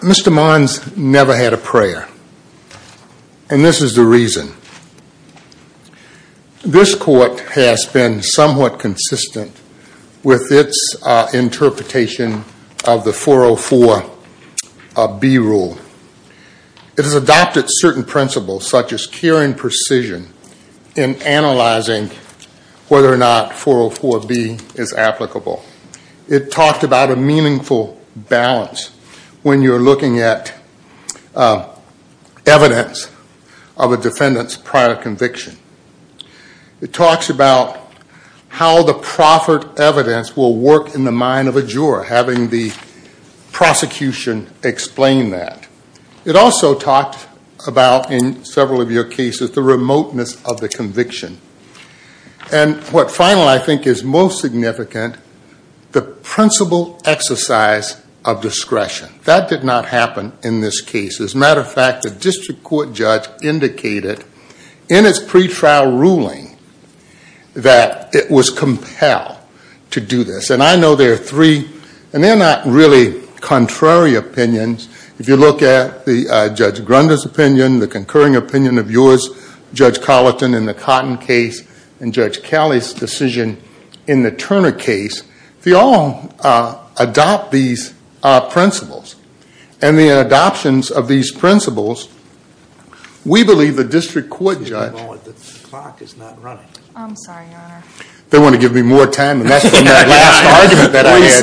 Mr. Monds never had a prayer and this is the reason. This court has been somewhat consistent with its interpretation of the 404B rule. It has adopted certain principles such as care and precision in analyzing whether or not 404B is applicable. It talked about a when you are looking at evidence of a defendant's prior conviction. It talks about how the proffered evidence will work in the mind of a juror, having the prosecution explain that. It also talked about, in several of your cases, the remoteness of the conviction. And what finally I think is most significant, the principle exercise of discretion. That did not happen in this case. As a matter of fact, the district court judge indicated in its pre-trial ruling that it was compelled to do this. And I know there are three, and they are not really contrary opinions. If you look at Judge Grunder's opinion, the concurring exercise decision in the Turner case, they all adopt these principles. And the adoptions of these principles, we believe the district court judge, they want to give me more time the district court judge applied these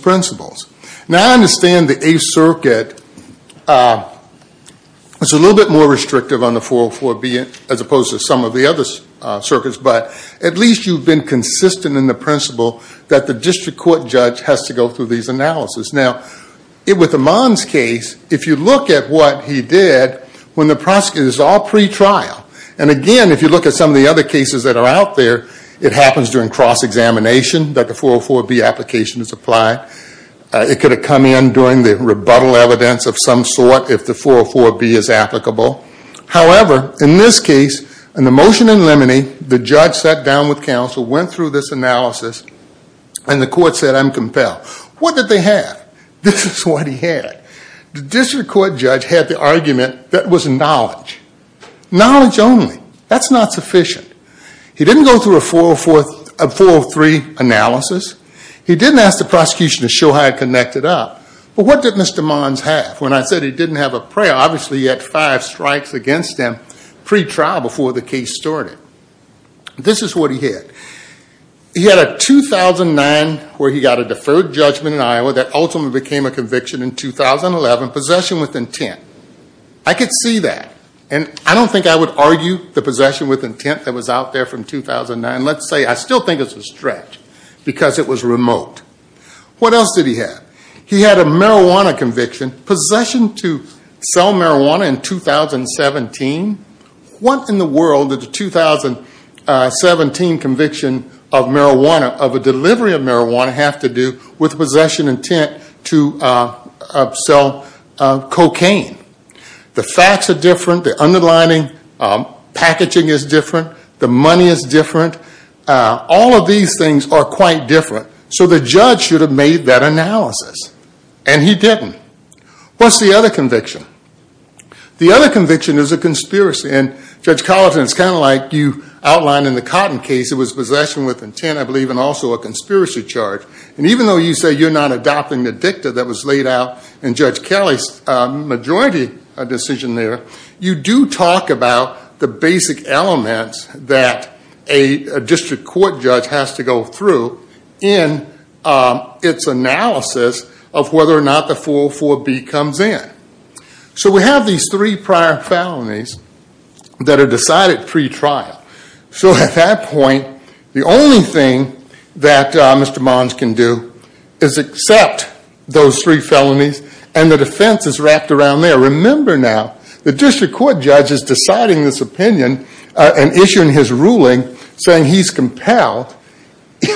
principles. Now I understand the Eighth Circuit is a little bit more restrictive on the 404B as opposed to some of the other circuits, but at least you have been consistent in the principle that the district court judge has to go through these analysis. Now, with the Mons case, if you look at what he did, when the prosecutor is all pre-trial, and again, if you look at some of the other cases that are out there, it happens during cross-examination that the 404B application is applied. It could have come in during the rebuttal evidence of some sort if the 404B is applicable. However, in this case, in the motion in limine, the judge sat down with counsel, went through this analysis, and the court said, I'm compelled. What did they have? This is what he had. The district court judge had the argument that was knowledge. Knowledge only. That's not sufficient. He didn't go through a 403 analysis. He didn't ask the prosecution to show how it connected up. But what did Mr. Mons have? When I said he didn't have a prior, obviously he had five strikes against him pre-trial before the case started. This is what he had. He had a 2009 where he got a deferred judgment in Iowa that ultimately became a conviction in 2011, possession with intent. I could see that. And I don't think I would argue the possession with intent that was out there from 2009. Let's say, I still think it's a stretch because it was He had a marijuana conviction. Possession to sell marijuana in 2017. What in the world did the 2017 conviction of marijuana, of a delivery of marijuana, have to do with possession intent to sell cocaine? The facts are different. The underlining packaging is different. The money is different. All of these things are quite different. So the judge should have made that analysis. And he didn't. What's the other conviction? The other conviction is a conspiracy. And Judge Collinson, it's kind of like you outlined in the Cotton case. It was possession with intent, I believe, and also a conspiracy charge. And even though you say you're not adopting the dicta that was laid out in Judge Kelly's majority decision there, you do talk about the basic elements that a district court judge has to go through in its analysis of whether or not the 404B comes in. So we have these three prior felonies that are decided pre-trial. So at that point, the only thing that Mr. Mons can do is accept those three felonies and the defense is wrapped around there. Remember now, the district court judge is deciding this opinion and issuing his ruling saying he's compelled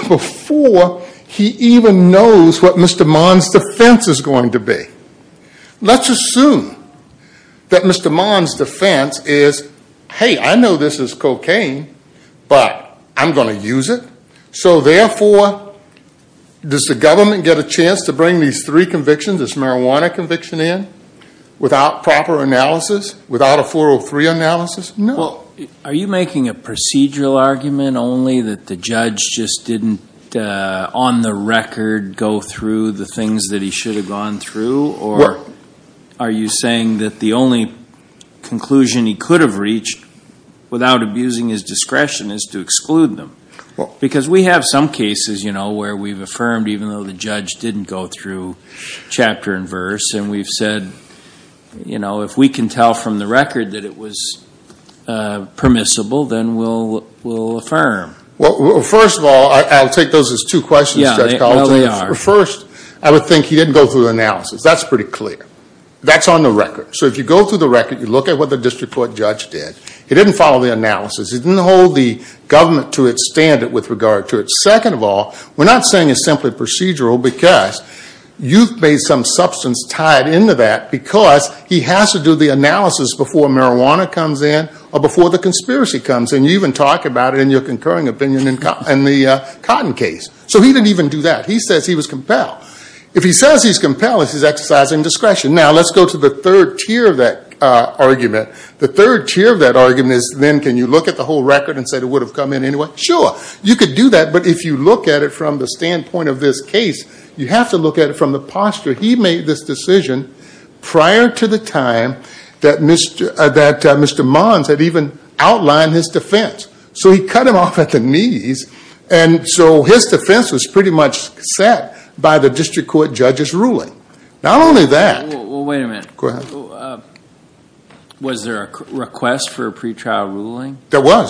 before he even knows what Mr. Mons' defense is going to be. Let's assume that Mr. Mons' defense is, hey, I know this is cocaine, but I'm going to use it. So therefore, does the government get a chance to bring these three convictions, this marijuana conviction in, without proper analysis, without a 403 analysis? No. Well, are you making a procedural argument only that the judge just didn't, on the record, go through the things that he should have gone through? Or are you saying that the only conclusion he could have reached without abusing his discretion is to exclude them? Because we have some cases, you know, where we've affirmed even though the judge didn't go through chapter and verse, and we've said, you know, if we can tell from the record that it was permissible, then we'll affirm. Well, first of all, I'll take those as two questions, Judge Collins, but first, I would think he didn't go through the analysis. That's pretty clear. That's on the record. So if you go through the record, you look at what the district court judge did. He didn't follow the analysis. He didn't hold the government to its standard with regard to it. Second of all, we're not saying it's simply procedural because you've made some substance tied into that because he has to do the analysis before marijuana comes in or before the conspiracy comes in. You even talk about it in your concurring opinion in the Cotton case. So he didn't even do that. He says he was compelled. If he says he's compelled, it's his exercise in discretion. Now let's go to the third tier of that argument. The third tier of that argument is then can you look at the whole record and say it would have come in anyway? Sure. You could do that, but if you look at it from the standpoint of this case, you have to look at it from the posture. He made this decision prior to the time that Mr. Mons had even outlined his defense. So he cut him off at the knees, and so his defense was pretty much set by the district court judge's ruling. Not only that- Well, wait a minute. Was there a request for a pretrial ruling? Yeah.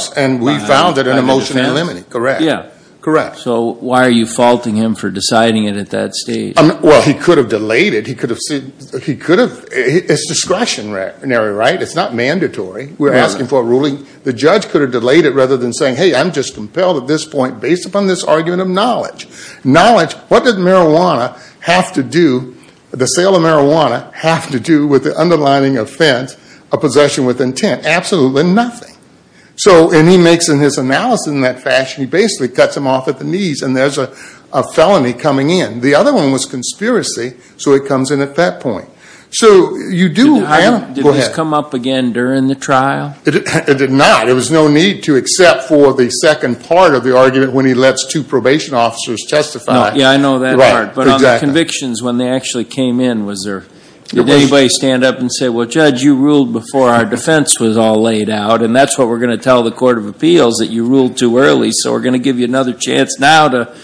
So why are you faulting him for deciding it at that stage? Well, he could have delayed it. It's discretionary, right? It's not mandatory. We're asking for a ruling. The judge could have delayed it rather than saying, hey, I'm just compelled at this point based upon this argument of knowledge. What does the sale of marijuana have to do with the underlining offense of possession with intent? Absolutely nothing. And he makes in his analysis in that fashion, he basically cuts him off at the knees and there's a felony coming in. The other one was conspiracy, so it comes in at that point. So you do- Did this come up again during the trial? It did not. There was no need to except for the second part of the argument when he lets two probation officers testify. Yeah, I know that part. But on the convictions, when they actually came in, did anybody stand up and say, well, Judge, you ruled before our defense was all laid out. And that's what we're going to tell the Court of Appeals, that you ruled too early. So we're going to give you another chance now to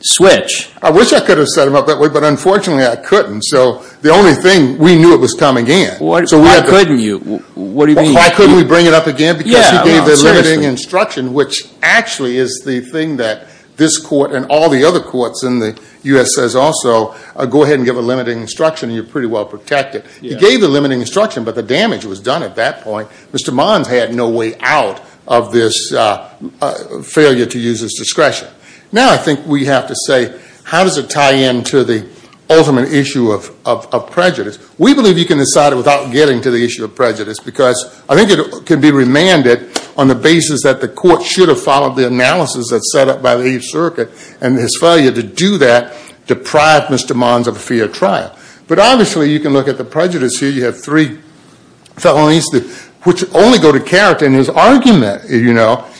switch. I wish I could have set him up that way, but unfortunately I couldn't. So the only thing, we knew it was coming in. Why couldn't you? What do you mean? Why couldn't we bring it up again? Because he gave a limiting instruction, which actually is the thing that this court and all the other courts in the U.S. says also, go ahead and give a limiting instruction and you're pretty well protected. He gave the limiting instruction, but the damage was done at that point. Mr. Mons had no way out of this failure to use his discretion. Now I think we have to say, how does it tie into the ultimate issue of prejudice? We believe you can decide it without getting to the issue of prejudice, because I think it can be remanded on the basis that the court should have followed the analysis that's set up by the Eighth Circuit and his failure to do that deprived Mr. Mons of a fair trial. But obviously you can look at the prejudice here. You have three felonies, which only go to character in his argument.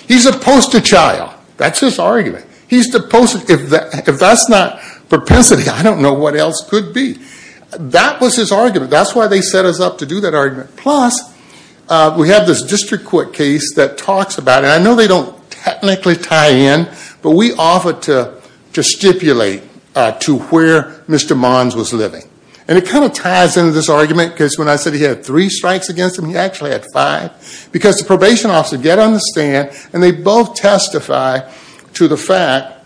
He's opposed to child. That's his argument. He's opposed to, if that's not propensity, I don't know what else could be. That was his argument. That's why they set us up to do that argument. Plus, we have this district court case that stipulates to where Mr. Mons was living. And it kind of ties into this argument, because when I said he had three strikes against him, he actually had five. Because the probation officer got on the stand and they both testify to the fact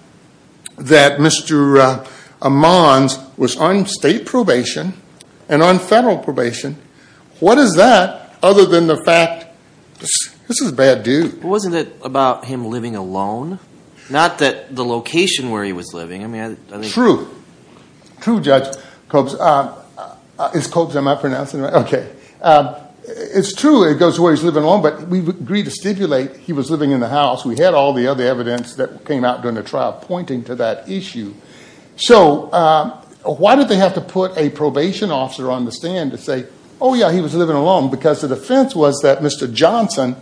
that Mr. Mons was on state probation and on federal probation. What is that other than the fact, this is a bad dude. Wasn't it about him living alone? Not that the location where he was living. True. True, Judge Coates. Is Coates, am I pronouncing it right? Okay. It's true, it goes to where he's living alone, but we agreed to stipulate he was living in the house. We had all the other evidence that came out during the trial pointing to that issue. So why did they have to put a probation officer on the stand to say, oh yeah, he was living alone? Because the defense was that Mr. Johnson,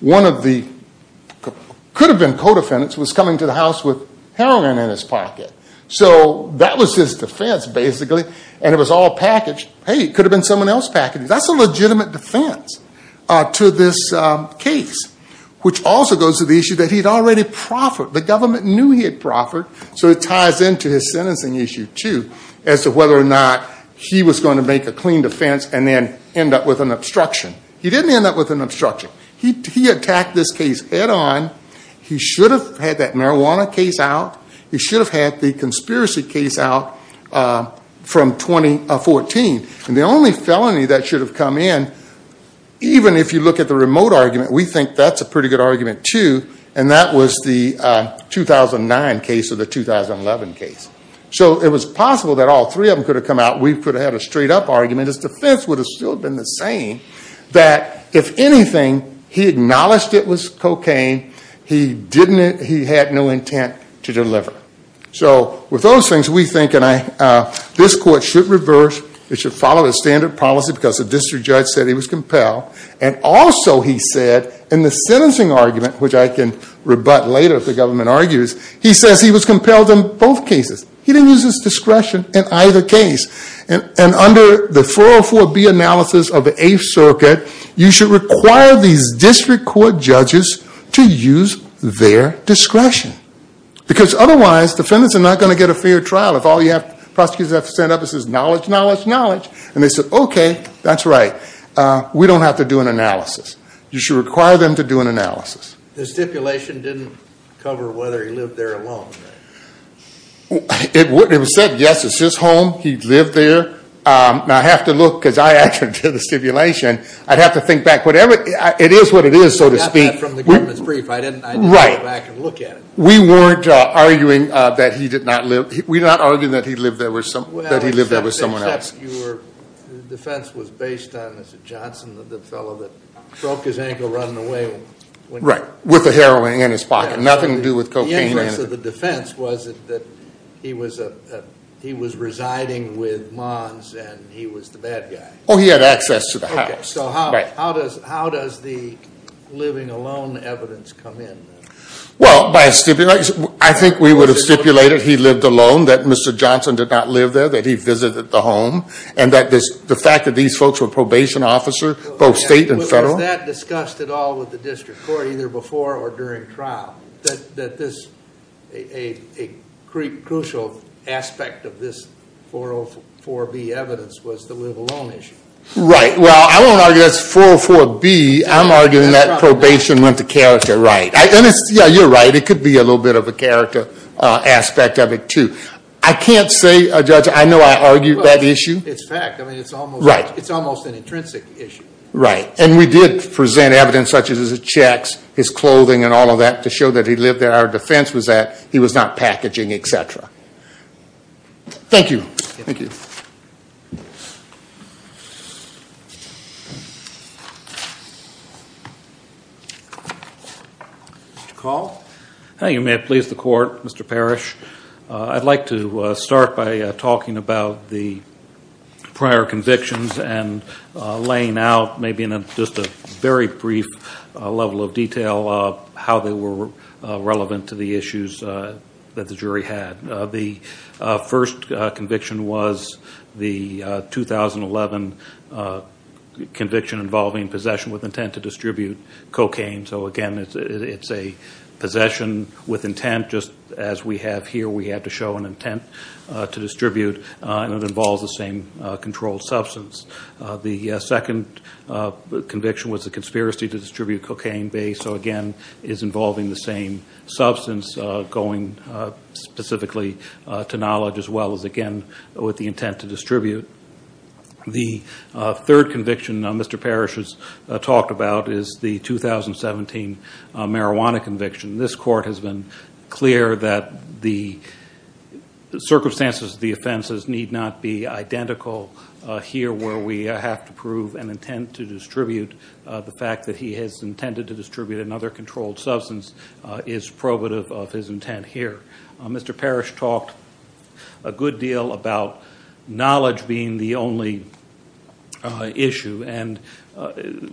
one of the, could have been co-defendants, was coming to the house with heroin in his pocket. So that was his defense, basically. And it was all packaged, hey, it could have been someone else packaging. That's a legitimate defense to this case. Which also goes to the issue that he had already proffered. The government knew he had proffered. So it ties into his sentencing issue, too, as to whether or not he was going to make a clean defense and then end up with an obstruction. He didn't end up with an obstruction. He attacked this case head on. He should have had that marijuana case out. He should have had the conspiracy case out from 2014. And the only felony that should have come in, even if you look at the remote argument, we think that's a pretty good argument, too, and that was the 2009 case or the 2011 case. So it was possible that all three of them could have come out. We could have had a clean defense. The defense would have still been the same. That if anything, he acknowledged it was cocaine. He didn't, he had no intent to deliver. So with those things, we think, and I, this court should reverse, it should follow the standard policy because the district judge said he was compelled. And also, he said, in the sentencing argument, which I can rebut later if the government argues, he says he was compelled in both cases. He didn't use his discretion in either case. And under the 404B analysis of the Eighth Circuit, you should require these district court judges to use their discretion. Because otherwise, defendants are not going to get a fair trial if all you have, prosecutors have to stand up and say, knowledge, knowledge, knowledge. And they say, okay, that's right. We don't have to do an analysis. You should require them to do an analysis. The stipulation didn't cover whether he lived there alone. It was said, yes, it's his home. He lived there. Now, I have to look, because I actually did the stipulation. I'd have to think back. Whatever, it is what it is, so to speak. From the government's brief, I didn't, I didn't go back and look at it. We weren't arguing that he did not live, we're not arguing that he lived there with some, that he lived there with someone else. Except your defense was based on Mr. Johnson, the fellow that broke his ankle running away. Right, with the heroin in his pocket. Nothing to do with cocaine. The interest of the defense was that he was a, he was residing with Mons and he was the bad guy. Oh, he had access to the house. Okay, so how, how does, how does the living alone evidence come in? Well, by a stipulation, I think we would have stipulated he lived alone, that Mr. Johnson did not live there, that he visited the home. And that this, the fact that these folks were probation officers, both state and federal. Was that discussed at all at the district court, either before or during trial. That this, a crucial aspect of this 404B evidence was the live alone issue. Right, well, I won't argue that's 404B, I'm arguing that probation went to character, right. Yeah, you're right, it could be a little bit of a character aspect of it too. I can't say, Judge, I know I argued that issue. It's fact, I mean it's almost, an intrinsic issue. Right, and we did present evidence such as his checks, his clothing, and all of that to show that he lived there. Our defense was that he was not packaging, etc. Thank you. Thank you. Mr. Call? Hi, you may please the court, Mr. Parrish. I'd like to start by talking about the laying out, maybe in just a very brief level of detail, how they were relevant to the issues that the jury had. The first conviction was the 2011 conviction involving possession with intent to distribute cocaine. So again, it's a possession with intent, just as we have here. We had to show an intent to distribute and it involves the same controlled substance. The second conviction was the conspiracy to distribute cocaine based. So again, it's involving the same substance, going specifically to knowledge as well as, again, with the intent to distribute. The third conviction Mr. Parrish has talked about is the 2017 marijuana conviction. This the circumstances of the offenses need not be identical here where we have to prove an intent to distribute. The fact that he has intended to distribute another controlled substance is probative of his intent here. Mr. Parrish talked a good deal about knowledge being the only issue and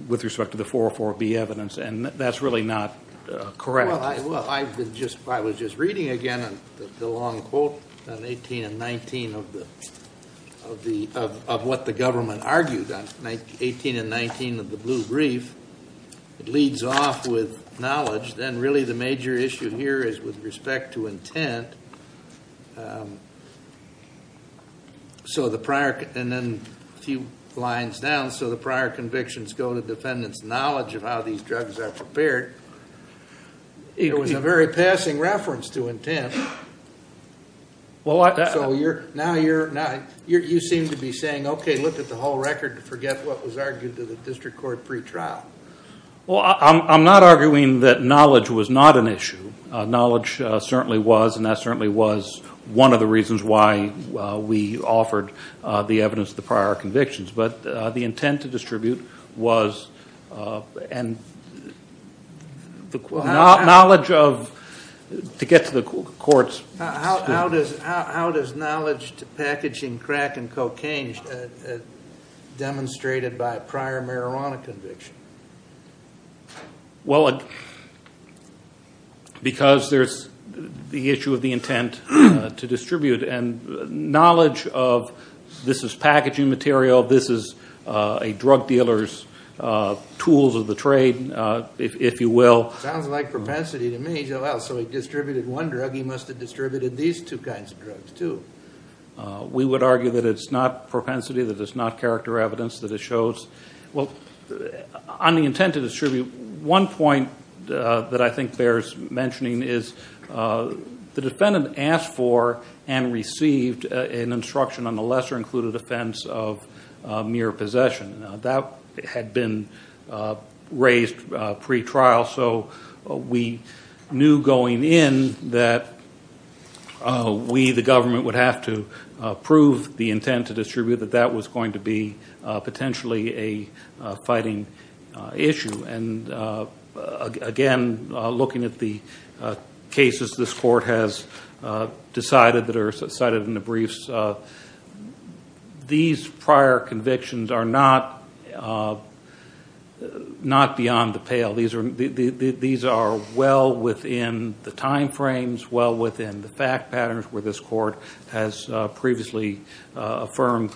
with respect to the 404B evidence and that's really not correct. Well, I've been just, I was just reading again the long quote on 18 and 19 of what the government argued on 18 and 19 of the blue brief. It leads off with knowledge, then really the major issue here is with respect to intent. So the prior, and then a few lines down, so the prior convictions go to defendant's knowledge of how these drugs are prepared. It was a very passing reference to intent. So you're, now you're, now you seem to be saying okay look at the whole record and forget what was argued to the district court pre-trial. Well, I'm not arguing that knowledge was not an issue. Knowledge certainly was and that certainly was one of the reasons why we offered the evidence the prior convictions, but the intent to distribute was and the knowledge of, to get to the courts. How does knowledge to packaging crack and cocaine demonstrated by a prior marijuana conviction? Well, because there's the issue of the intent to distribute and knowledge of this is packaging material, this is a drug dealer's tools of the trade, if you will. Sounds like propensity to me, so he distributed one drug, he must have distributed these two kinds of drugs too. We would argue that it's not propensity, that it's not character evidence that it shows. Well, on the intent to distribute, one point that I think bears mentioning is the defendant asked for and received an instruction on the lesser included offense of mere possession. Now that had been raised pre-trial, so we knew going in that we, the government, would have to prove the intent to distribute that that was going to be potentially a fighting issue. Again, looking at the cases this court has decided that are cited in the briefs, these prior convictions are not beyond the pale. These are well within the time frames, well within the fact patterns where this court has previously affirmed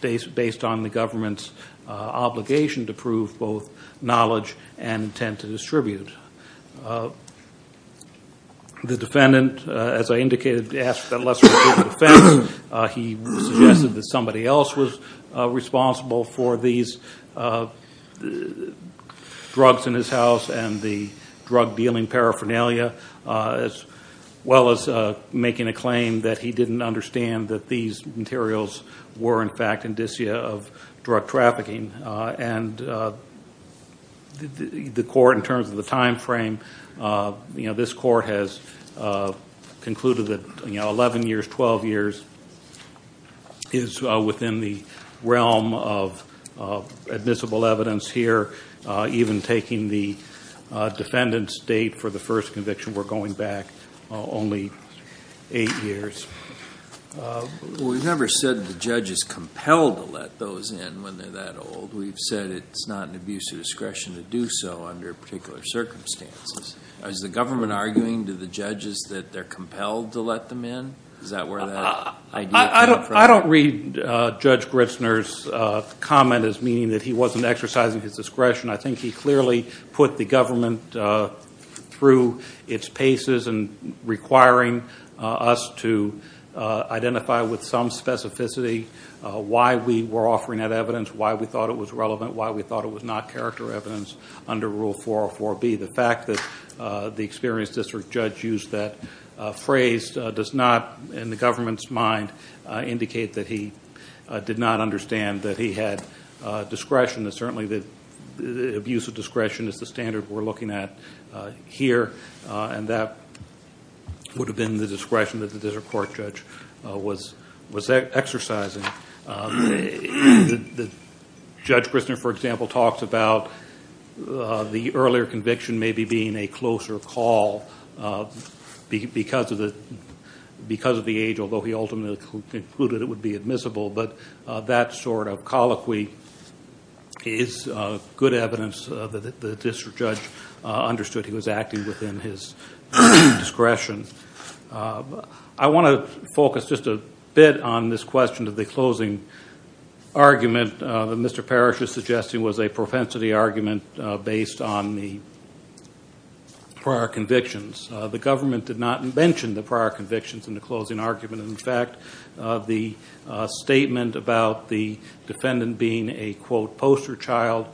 based on the government's obligation to prove both knowledge and intent to distribute. The defendant, as I indicated, asked for that lesser included offense. He suggested that somebody else was responsible for these as well as making a claim that he didn't understand that these materials were in fact indicia of drug trafficking. The court, in terms of the time frame, this court has concluded that 11 years, 12 years is within the realm of admissible evidence here, even taking the conviction we're going back only eight years. We've never said the judge is compelled to let those in when they're that old. We've said it's not an abuse of discretion to do so under particular circumstances. Is the government arguing to the judges that they're compelled to let them in? Is that where that idea came from? I don't read Judge Gritzner's comment as he wasn't exercising his discretion. I think he clearly put the government through its paces and requiring us to identify with some specificity why we were offering that evidence, why we thought it was relevant, why we thought it was not character evidence under Rule 404B. The fact that the experienced district judge used that phrase does not, in the government's mind, indicate that he did not understand that he had discretion. Certainly the abuse of discretion is the standard we're looking at here, and that would have been the discretion that the district court judge was exercising. Judge Gritzner, for example, talks about the earlier conviction maybe being a closer call because of the age, although he ultimately concluded it would be admissible. But that sort of colloquy is good evidence that the district judge understood he was acting within his discretion. I want to focus just a bit on this question of the closing argument that Mr. Parrish was suggesting was a propensity argument based on the prior convictions. The government did not mention the prior convictions in the closing argument. In fact, the statement about the defendant being a, quote, poster child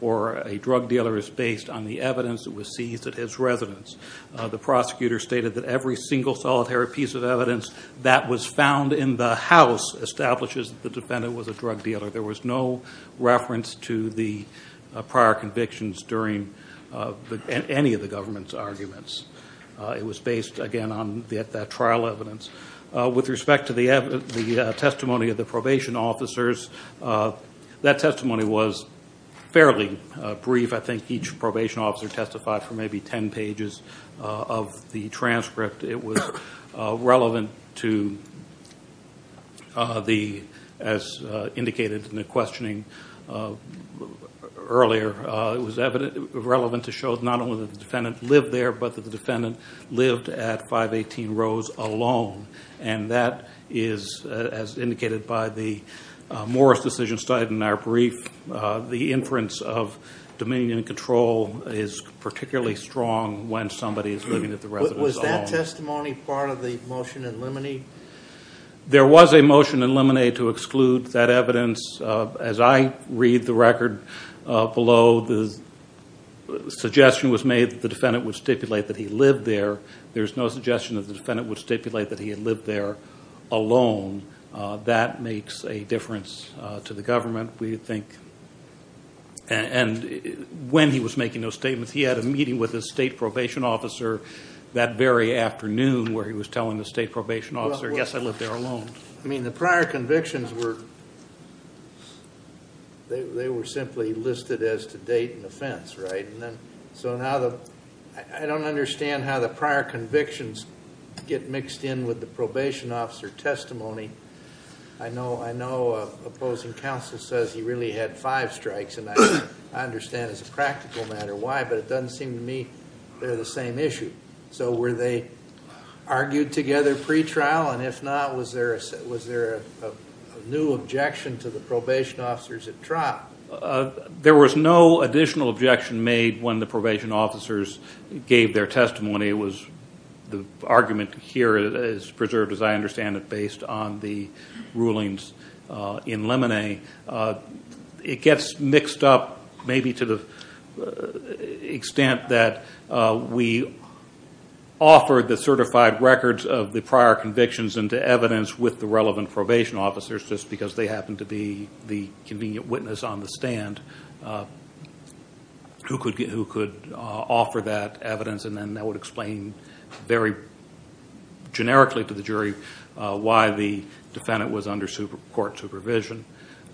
for a drug dealer is based on the evidence that was seized at his residence. The prosecutor stated that every single solitary piece of evidence that was found in the house establishes the defendant was a drug dealer. There was no reference to the prior convictions during any of the government's arguments. It was based, again, on that trial evidence. With respect to the testimony of the probation officers, that testimony was fairly brief. I think each probation officer testified for maybe 10 pages of the transcript. It was relevant to, as indicated in the questioning earlier, it was relevant to show not only that the defendant lived there, but that the defendant lived at 518 Rose alone. And that is, as indicated by the Morris decision cited in our brief, the inference of dominion and control is particularly strong when somebody is living at the residence alone. Was that testimony part of the motion in limine? There was a motion in limine to exclude that evidence. As I read the record below, the suggestion was made that the defendant would stipulate that he lived there. There's no suggestion that the defendant would stipulate that he had lived there alone. That makes a difference to the government, we think. And when he was making those statements, he had a meeting with the state probation officer that very afternoon where he was telling the state probation officer, yes, I lived there alone. The prior convictions were simply listed as to date and offense. I don't understand how the prior convictions get mixed in with the probation officer testimony. I know opposing counsel says he really had five strikes, and I understand as a the same issue. So were they argued together pretrial? And if not, was there a new objection to the probation officers at trial? There was no additional objection made when the probation officers gave their testimony. It was the argument here is preserved, as I understand it, based on rulings in limine. It gets mixed up maybe to the extent that we offered the certified records of the prior convictions into evidence with the relevant probation officers just because they happen to be the convenient witness on the stand who could offer that evidence, and then that would explain very generically to the jury why the defendant was under court supervision.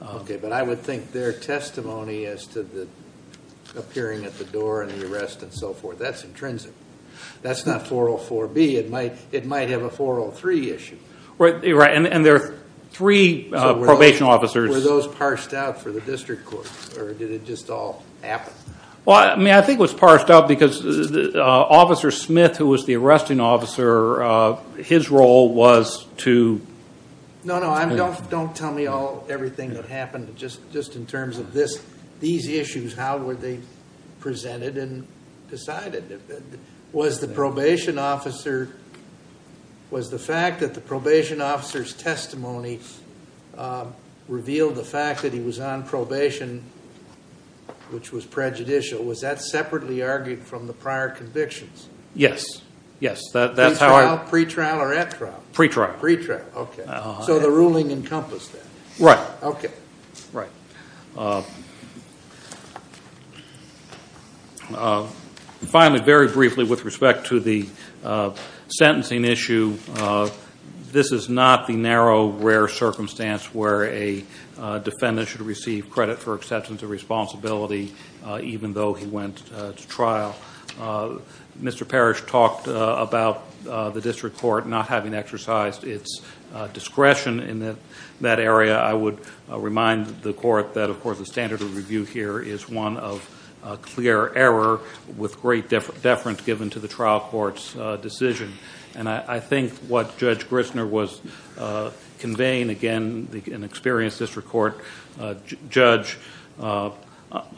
Okay. But I would think their testimony as to the appearing at the door and the arrest and so forth, that's intrinsic. That's not 404B. It might have a 403 issue. Right. And there are three probation officers. Were those parsed out for the district court, or did it just all happen? Well, I mean, I think it was parsed out because Officer Smith, who was the arresting officer, his role was to... No, no. Don't tell me everything that happened just in terms of these issues. How were they presented and decided? Was the fact that the probation officer's testimony revealed the fact that he was on probation, which was prejudicial, was that separately argued from the prior convictions? Yes. Yes. That's how I... Pre-trial or at trial? Pre-trial. Pre-trial. Okay. So the ruling encompassed that. Right. Okay. Right. Finally, very briefly with respect to the sentencing issue, this is not the narrow, rare circumstance where a defendant should receive credit for acceptance of responsibility even though he went to trial. Mr. Parrish talked about the district court not having the standard of review here is one of clear error with great deference given to the trial court's decision. I think what Judge Grissner was conveying, again, an experienced district court judge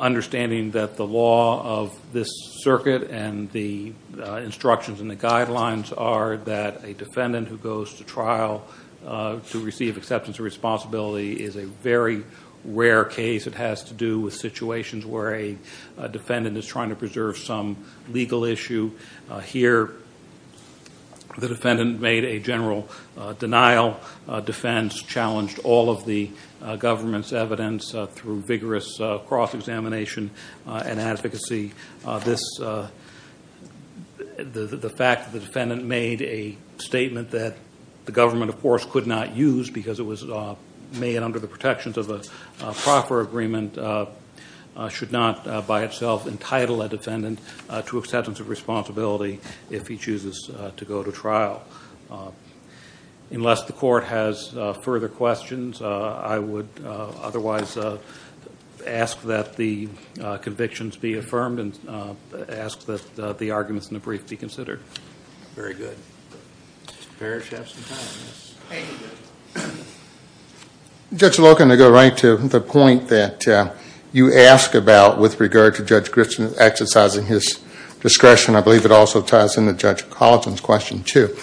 understanding that the law of this circuit and the instructions and the guidelines are that a defendant who goes to trial to receive acceptance of responsibility is a very rare case. It has to do with situations where a defendant is trying to preserve some legal issue. Here, the defendant made a general denial. Defense challenged all of the government's evidence through vigorous cross-examination and advocacy. The fact that the defendant made a statement that the government, of course, could not use because it was made under the protections of a proper agreement should not by itself entitle a defendant to acceptance of responsibility if he chooses to go to trial. Unless the court has further questions, I would otherwise ask that the convictions be affirmed and ask that the arguments in the brief be considered. Very good. Mr. Parrish, you have some time. Judge Loken, to go right to the point that you asked about with regard to Judge Grissner exercising his discretion, I believe it also ties into Judge Collinson's question, too.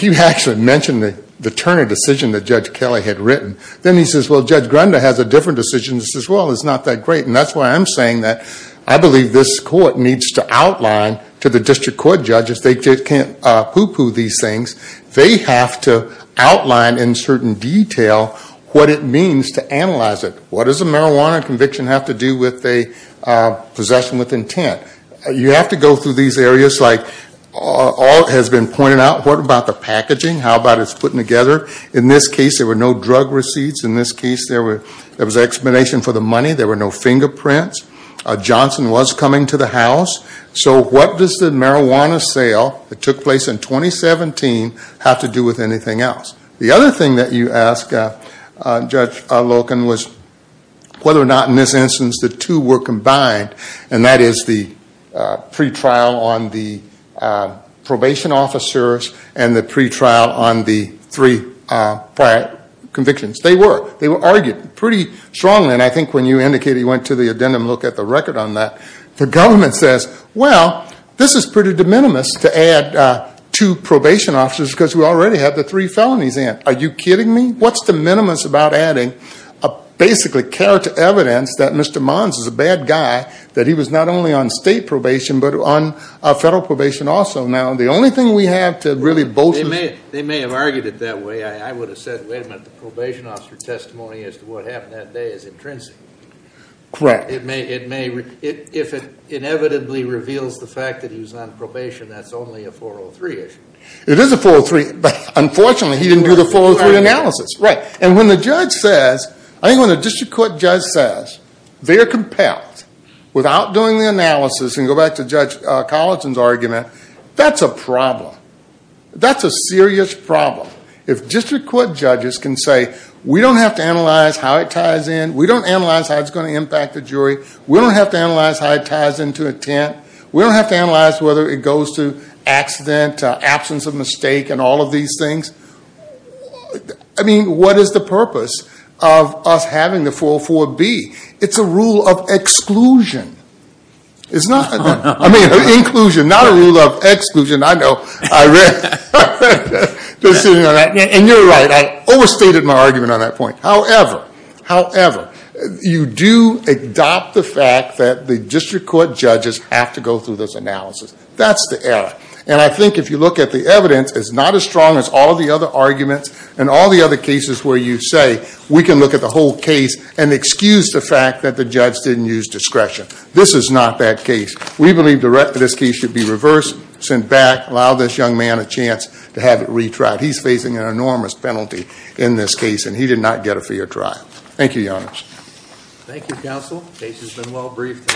You actually mentioned the Turner decision that Judge Kelly had written. Then he says, well, Judge Grunda has a different decision. He says, well, it's not that great. And that's why I'm saying that I believe this court needs to outline to the district court judge, they can't pooh-pooh these things. They have to outline in certain detail what it means to analyze it. What does a marijuana conviction have to do with a possession with intent? You have to go through these areas. All has been pointed out. What about the packaging? How about it's put together? In this case, there were no drug receipts. In this case, there was an explanation for the money. There were no fingerprints. Johnson was coming to the house. So what does the marijuana sale that took place in 2017 have to do with anything else? The other thing that you asked, Judge Loken, was whether or not in this instance the two were combined. And that is the pretrial on the probation officers and the pretrial on the three prior convictions. They were. They were argued pretty strongly. And I think when you indicated you didn't look at the record on that, the government says, well, this is pretty de minimis to add two probation officers because we already have the three felonies in. Are you kidding me? What's de minimis about adding basically character evidence that Mr. Mons is a bad guy, that he was not only on state probation but on federal probation also. Now, the only thing we have to really bolster. They may have argued it that way. I would have said, wait a minute, the probation officer testimony as to what happened that day is intrinsic. Correct. It may, if it inevitably reveals the fact that he was on probation, that's only a 403 issue. It is a 403, but unfortunately he didn't do the 403 analysis. Right. And when the judge says, I think when the district court judge says they are compelled without doing the analysis and go back to Judge Collinson's argument, that's a problem. That's a serious problem. If district court judges can say, we don't have to analyze how it ties in. We don't analyze how it's going to impact the jury. We don't have to analyze how it ties into intent. We don't have to analyze whether it goes to accident, absence of mistake, and all of these things. I mean, what is the purpose of us having the 404B? It's a rule of exclusion. It's not. I mean, inclusion, not a rule of exclusion. I know. I read. And you're right. I overstated my argument on that point. However, however, you do adopt the fact that the district court judges have to go through this analysis. That's the error. And I think if you look at the evidence, it's not as strong as all of the other arguments and all the other cases where you say, we can look at the whole case and excuse the fact that the judge didn't use discretion. This is not that case. We believe the rest of this case should be reversed, sent back, allow this young man a chance to have it retried. He's facing an enormous penalty in this case, and he did not get a fair trial. Thank you, Your Honor. Thank you, counsel. Case has been well briefed.